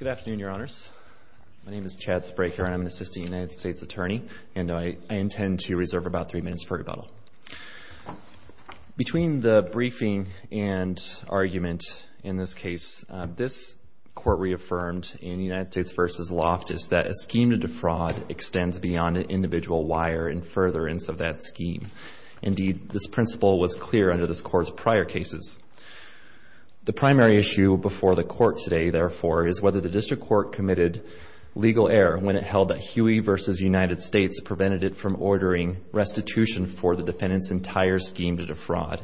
Good afternoon, your honors. My name is Chad Spraker and I'm an assistant United States attorney and I intend to reserve about three minutes for rebuttal. Between the briefing and argument in this case, this court reaffirmed in United States v. Loftus that a scheme to defraud extends beyond an individual wire and furtherance of that scheme. Indeed, this primary issue before the court today, therefore, is whether the district court committed legal error when it held that Huey v. United States prevented it from ordering restitution for the defendant's entire scheme to defraud.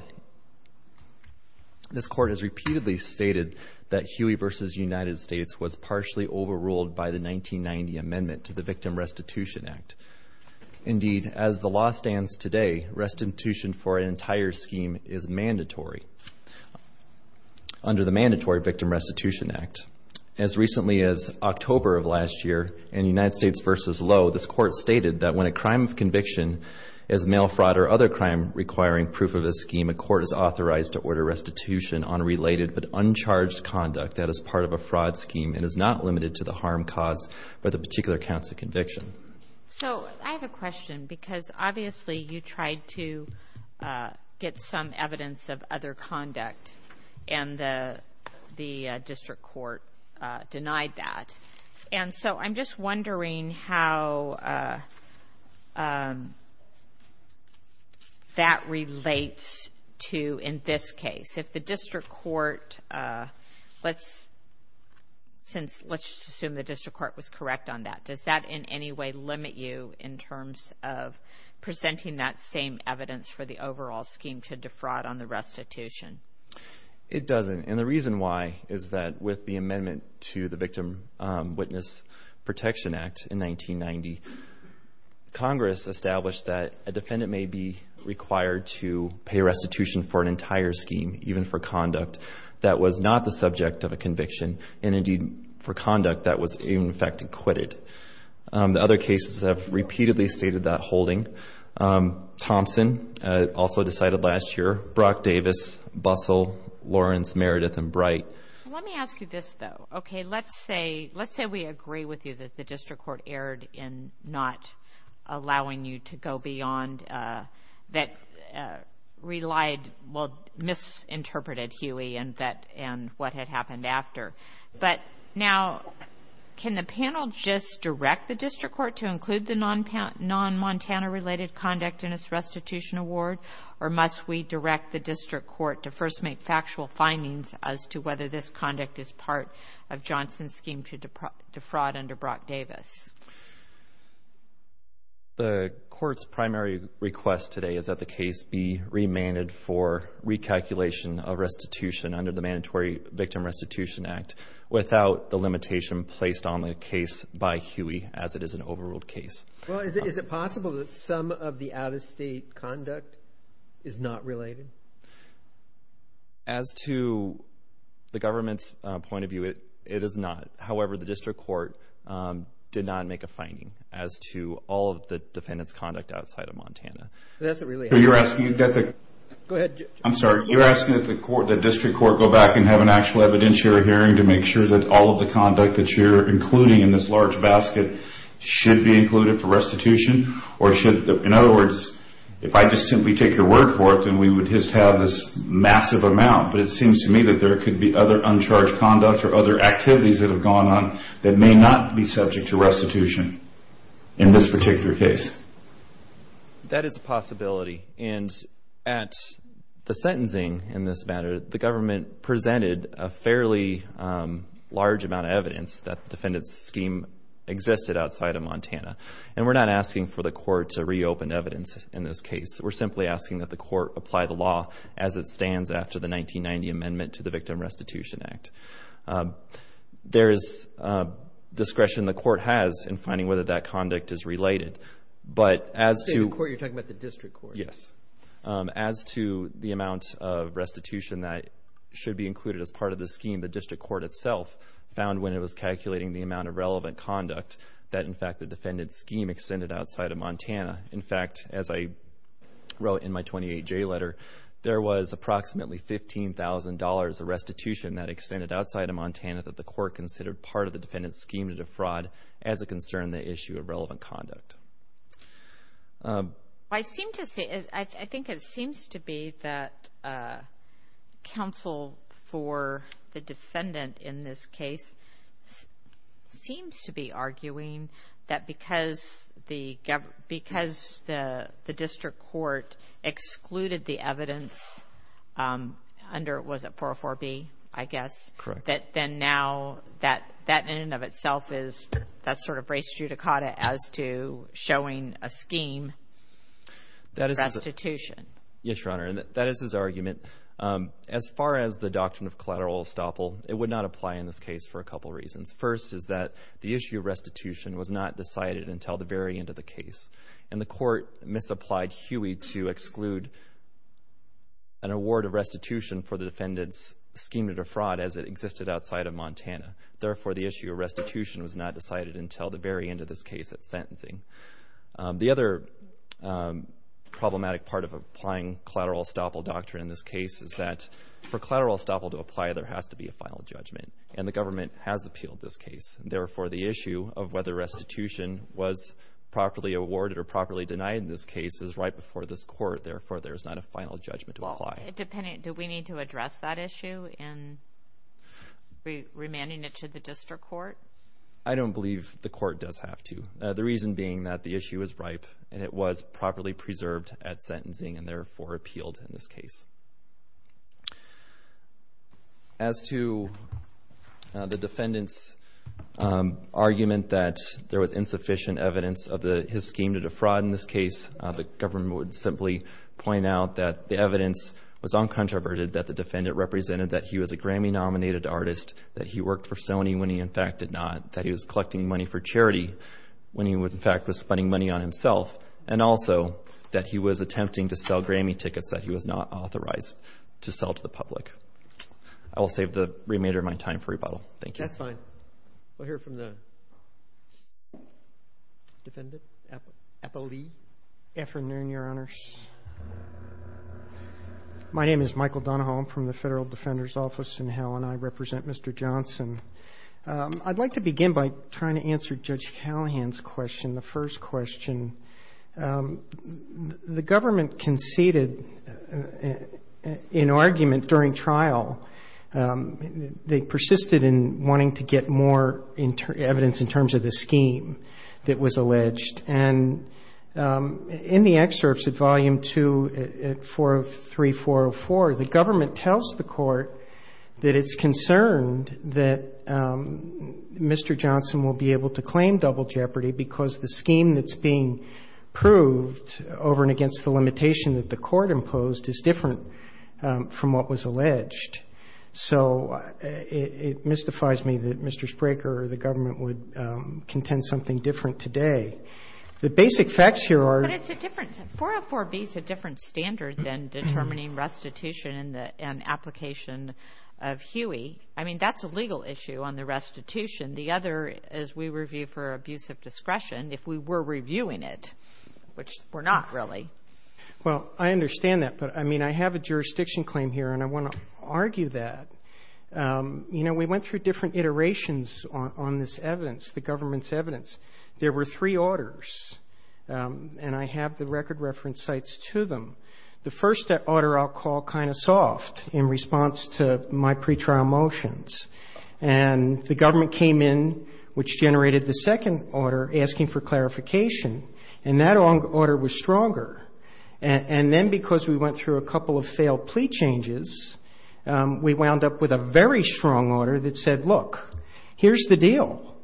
This court has repeatedly stated that Huey v. United States was partially overruled by the 1990 amendment to the Victim Restitution Act. Indeed, as the law stands today, restitution for an entire scheme is mandatory. Under the Victim Restitution Act, as recently as October of last year, in United States v. Lowe, this court stated that when a crime of conviction is mail fraud or other crime requiring proof of a scheme, a court is authorized to order restitution on related but uncharged conduct that is part of a fraud scheme and is not limited to the harm caused by the particular counts of conviction. So, I have a question because obviously you tried to get some evidence of other conduct and the district court denied that. And so, I'm just wondering how that relates to in this case. If the district court, let's assume the district court was correct on that, does that in any way limit you in terms of presenting that same evidence for the overall scheme to defraud on the restitution? It doesn't. And the reason why is that with the amendment to the Victim Witness Protection Act in 1990, Congress established that a defendant may be required to pay restitution for an entire scheme, even for conduct that was not the subject of a conviction and indeed for conduct that was in fact acquitted. The other cases have repeatedly stated that holding. Thompson, also decided last year. Brock Davis, Bussell, Lawrence, Meredith, and Bright. Let me ask you this though. Okay, let's say we agree with you that the district court erred in not allowing you to go beyond that relied, well, misinterpreted Huey and what had happened after. But now, can the panel just direct the district court to include the non-Montana related conduct in its restitution award or must we direct the district court to first make factual findings as to whether this conduct is part of Johnson's scheme to defraud under Brock Davis? The court's primary request today is that the case be remanded for recalculation of restitution under the Mandatory Victim Restitution Act without the limitation placed on the case by Huey as it is an overruled case. Well, is it possible that some of the out-of-state conduct is not related? As to the government's point of view, it is not. However, the district court did not make a finding as to all of the defendant's conduct outside of Montana. That's a really... You're asking that the... Go ahead. I'm sorry. You're asking that the court, the district court go back and have an actual evidentiary hearing to make sure that all of the conduct that you're including in this large basket should be included for restitution or should... In other words, if I just simply take your word for it, then we would just have this massive amount. But it seems to me that there could be other uncharged conduct or other activities that have gone on that may not be subject to restitution in this particular case. That is a possibility. And at the sentencing in this matter, the government presented a fairly large amount of evidence that the defendant's scheme existed outside of Montana. And we're not asking for the court to reopen evidence in this case. We're simply asking that the court apply the law as it stands after the 1990 Amendment to the Victim Restitution Act. There is discretion the court has in finding whether that conduct is related. But as to... You're talking about the district court. Yes. As to the amount of restitution that should be included as part of the scheme, the district court itself found when it was calculating the amount of relevant conduct that, in fact, the defendant's scheme extended outside of Montana. In fact, as I wrote in my 28J letter, there was approximately $15,000 of restitution that extended outside of Montana that the court considered part of the defendant's scheme to defraud as it concerned the issue of relevant conduct. I think it seems to be that counsel for the defendant in this case seems to be arguing that because the district court excluded the evidence under, was it, 404B, I guess? Correct. That then now, that in and of itself is that sort of race judicata as to showing a scheme restitution. Yes, Your Honor. And that is his argument. As far as the doctrine of collateral estoppel, it would not apply in this case for a couple reasons. First is that the issue of restitution was not decided until the very end of the case, and the court misapplied Huey to exclude an award of restitution for the defendant's scheme to defraud as it existed outside of Montana. Therefore, the issue of restitution was not decided until the very end of this case at sentencing. The other problematic part of applying collateral estoppel doctrine in this case is that for collateral estoppel to apply, there has to be a final judgment, and the government has appealed this case. Therefore, the issue of whether restitution was properly awarded or properly denied in this case is right before this court. Therefore, there is not a final judgment to apply. Do we need to address that issue in remanding it to the district court? I don't believe the court does have to, the reason being that the issue is ripe, and it was properly preserved at sentencing and, therefore, appealed in this case. As to the defendant's argument that there was insufficient evidence of his scheme to defraud in this case, the government would simply point out that the evidence was uncontroverted, that the defendant represented that he was a Grammy-nominated artist, that he worked for Sony when he, in fact, did not, that he was collecting money for charity when he, in fact, was spending money on himself, and also that he was attempting to sell Grammy tickets that he was not authorized to sell to the public. I will save the remainder of my time for rebuttal. Thank you. That's fine. We'll hear from the defendant. Appellee. Afternoon, Your Honors. My name is Michael Donahoe. I'm from the Federal Defender's Office in Hell, and I represent Mr. Johnson. I'd like to begin by trying to answer Judge Callahan's question. The first question, the government conceded an argument during trial. They persisted in wanting to get more evidence in terms of the scheme that was alleged. And in the excerpts at Volume 2, 403, 404, the government tells the court that it's concerned that Mr. Johnson will be able to claim double jeopardy because the scheme that's being proved over and against the limitation that the court imposed is different from what was alleged. So it mystifies me that Mr. Spraker or the government would contend something different today. The basic facts here are ---- But it's a different 404B is a different standard than determining restitution and application of Huey. I mean, that's a legal issue on the restitution. The other is we review for abuse of discretion if we were reviewing it, which we're not really. Well, I understand that. But, I mean, I have a jurisdiction claim here, and I want to argue that. You know, we went through different iterations on this evidence, the government's evidence. There were three orders, and I have the record reference sites to them. The first order I'll call kind of soft in response to my pretrial motions. And the government came in, which generated the second order, asking for clarification. And that order was stronger. And then because we went through a couple of failed plea changes, we wound up with a very strong order that said, look, here's the deal.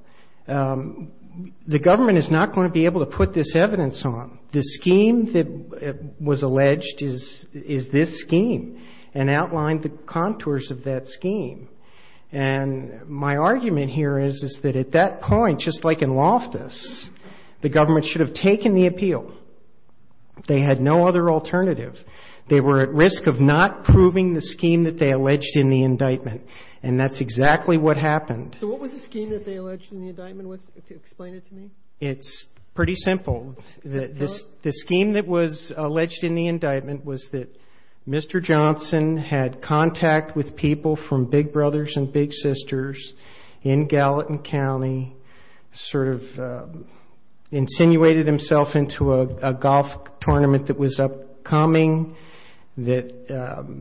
The government is not going to be able to put this evidence on. The scheme that was alleged is this scheme and outlined the contours of that scheme. And my argument here is, is that at that point, just like in Loftus, the government should have taken the appeal. They had no other alternative. They were at risk of not proving the scheme that they alleged in the indictment. And that's exactly what happened. So what was the scheme that they alleged in the indictment? Explain it to me. It's pretty simple. The scheme that was alleged in the indictment was that Mr. Johnson had contact with people from Big Brothers and Big Sisters in Gallatin County, sort of insinuated himself into a golf tournament that was upcoming, that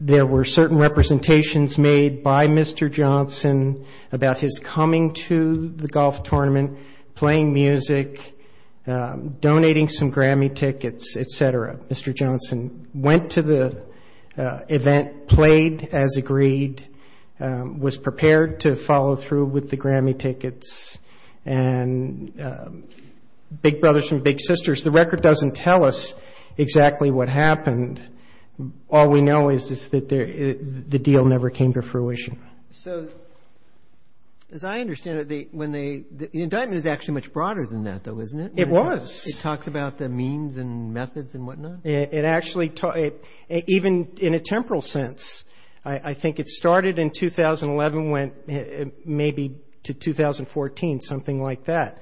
there were certain representations made by Mr. Johnson about his coming to the golf tournament, playing music, donating some Grammy tickets, et cetera. Mr. Johnson went to the event, played as agreed, was prepared to follow through with the Grammy tickets, and Big Brothers and Big Sisters. The record doesn't tell us exactly what happened. All we know is that the deal never came to fruition. So as I understand it, the indictment is actually much broader than that, though, isn't it? It was. It talks about the means and methods and whatnot? It actually, even in a temporal sense, I think it started in 2011, went maybe to 2014, something like that.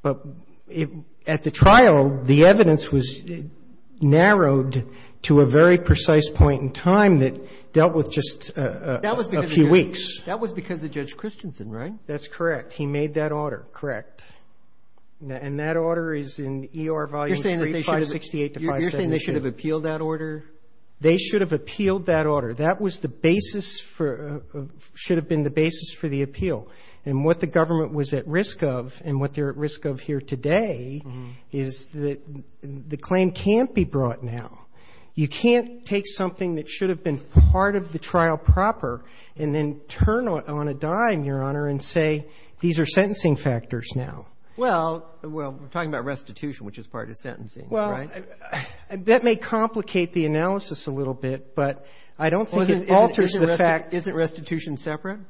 But at the trial, the evidence was narrowed to a very precise point in time that dealt with just a few weeks. That was because of Judge Christensen, right? That's correct. He made that order, correct. And that order is in ER Volume 3, 568 to 572. You're saying they should have appealed that order? They should have appealed that order. That should have been the basis for the appeal. And what the government was at risk of and what they're at risk of here today is that the claim can't be brought now. You can't take something that should have been part of the trial proper and then turn on a dime, Your Honor, and say these are sentencing factors now. Well, we're talking about restitution, which is part of sentencing, right? Well, that may complicate the analysis a little bit, but I don't think it alters the fact. Isn't restitution separate?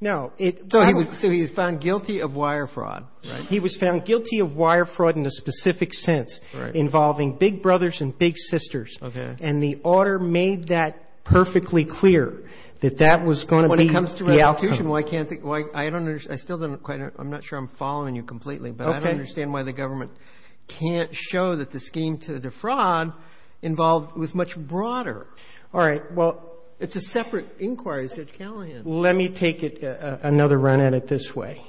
No. So he was found guilty of wire fraud, right? Involving big brothers and big sisters. Okay. And the order made that perfectly clear that that was going to be the outcome. When it comes to restitution, well, I can't think why I don't understand. I still don't quite know. I'm not sure I'm following you completely. Okay. But I don't understand why the government can't show that the scheme to defraud involved was much broader. All right. Well, it's a separate inquiry, Judge Callahan. Let me take another run at it this way.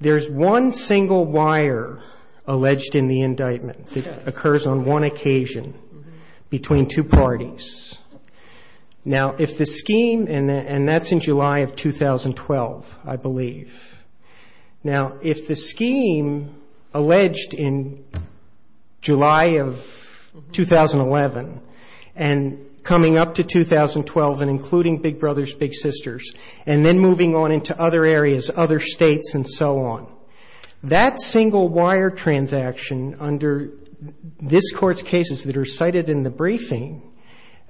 There's one single wire alleged in the indictment that occurs on one occasion between two parties. Now, if the scheme, and that's in July of 2012, I believe. Now, if the scheme alleged in July of 2011 and coming up to 2012 and including big brothers, big sisters, and then moving on into other areas, other states, and so on, that single wire transaction under this Court's cases that are cited in the briefing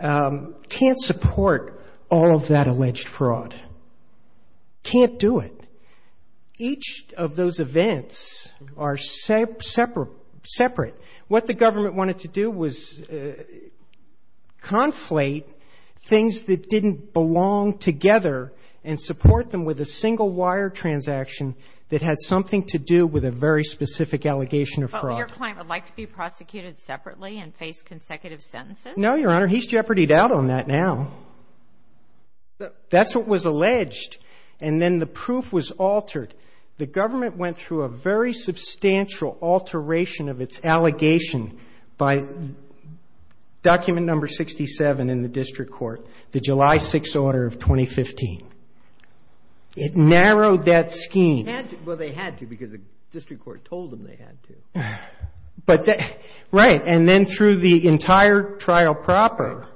can't support all of that alleged fraud. Can't do it. Each of those events are separate. What the government wanted to do was conflate things that didn't belong together and support them with a single wire transaction that had something to do with a very specific allegation of fraud. But your client would like to be prosecuted separately and face consecutive sentences? No, Your Honor. He's jeopardied out on that now. That's what was alleged. And then the proof was altered. The government went through a very substantial alteration of its allegation by document number 67 in the district court, the July 6th order of 2015. It narrowed that scheme. Well, they had to because the district court told them they had to. Right, and then through the entire trial proper,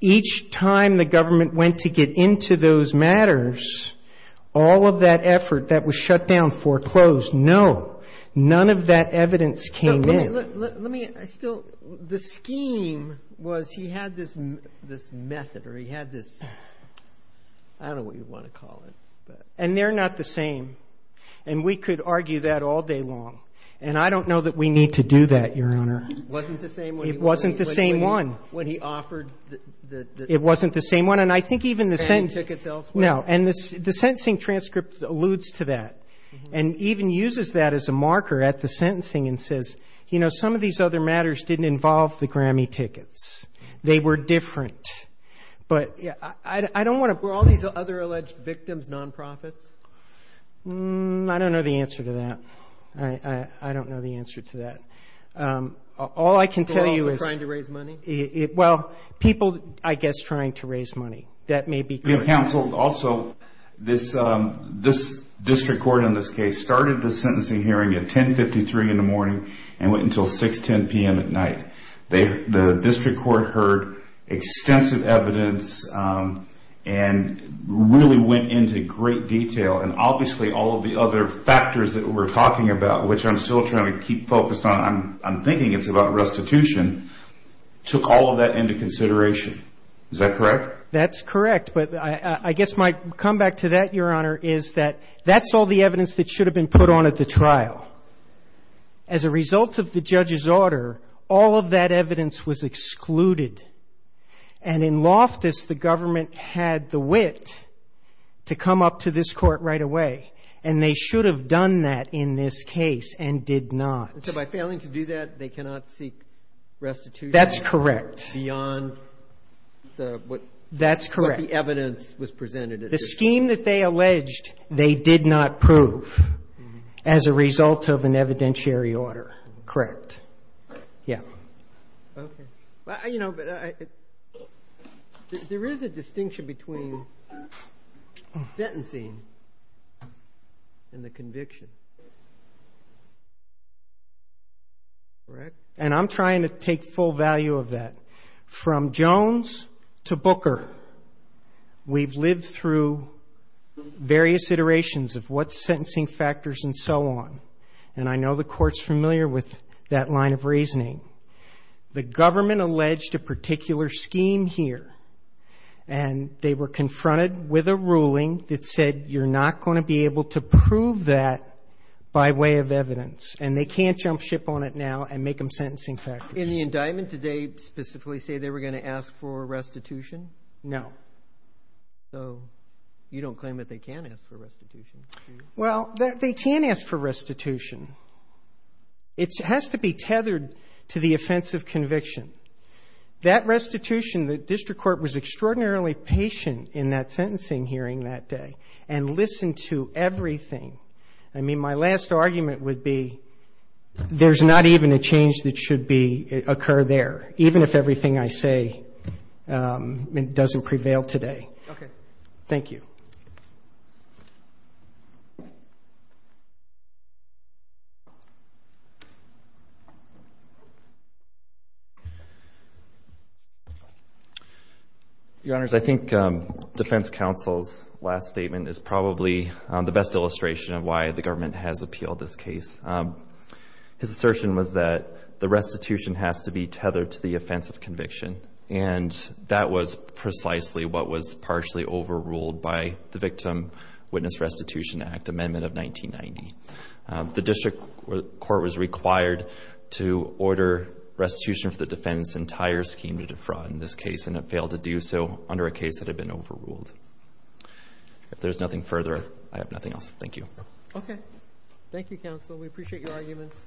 each time the government went to get into those matters, all of that effort that was shut down, foreclosed. No, none of that evidence came in. Let me still the scheme was he had this method or he had this, I don't know what you want to call it. And they're not the same. And we could argue that all day long. And I don't know that we need to do that, Your Honor. It wasn't the same when he offered. It wasn't the same one. When he offered. It wasn't the same one. And I think even the sentence. Paying tickets elsewhere. No, and the sentencing transcript alludes to that and even uses that as a marker at the sentencing and says, you know, some of these other matters didn't involve the Grammy tickets. They were different. But I don't want to. Were all these other alleged victims nonprofits? I don't know the answer to that. I don't know the answer to that. All I can tell you is. People also trying to raise money? Well, people, I guess, trying to raise money. That may be counseled. Also, this district court in this case started the sentencing hearing at 1053 in the morning and went until 610 p.m. at night. The district court heard extensive evidence and really went into great detail. And obviously all of the other factors that we're talking about, which I'm still trying to keep focused on. I'm thinking it's about restitution. Took all of that into consideration. Is that correct? That's correct. But I guess my comeback to that, Your Honor, is that that's all the evidence that should have been put on at the trial. As a result of the judge's order, all of that evidence was excluded. And in Loftus, the government had the wit to come up to this court right away. And they should have done that in this case and did not. So by failing to do that, they cannot seek restitution? That's correct. Beyond what the evidence was presented. That's correct. The scheme that they alleged they did not prove as a result of an evidentiary order. Correct. Yeah. Okay. Well, you know, there is a distinction between sentencing and the conviction. Correct? And I'm trying to take full value of that. From Jones to Booker, we've lived through various iterations of what's sentencing factors and so on. And I know the Court's familiar with that line of reasoning. The government alleged a particular scheme here, and they were confronted with a ruling that said you're not going to be able to prove that by way of evidence. And they can't jump ship on it now and make them sentencing factors. In the indictment, did they specifically say they were going to ask for restitution? No. So you don't claim that they can ask for restitution, do you? Well, they can ask for restitution. It has to be tethered to the offense of conviction. That restitution, the district court was extraordinarily patient in that sentencing hearing that day and listened to everything. I mean, my last argument would be there's not even a change that should occur there, even if everything I say doesn't prevail today. Okay. Thank you. Your Honors, I think defense counsel's last statement is probably the best illustration of why the government has appealed this case. His assertion was that the restitution has to be tethered to the offense of conviction, and that was precisely what was partially overruled by the Victim Witness Restitution Act Amendment of 1990. The district court was required to order restitution for the defendant's entire scheme to defraud in this case, and it failed to do so under a case that had been overruled. If there's nothing further, I have nothing else. Thank you. Okay. Thank you, counsel. We appreciate your arguments.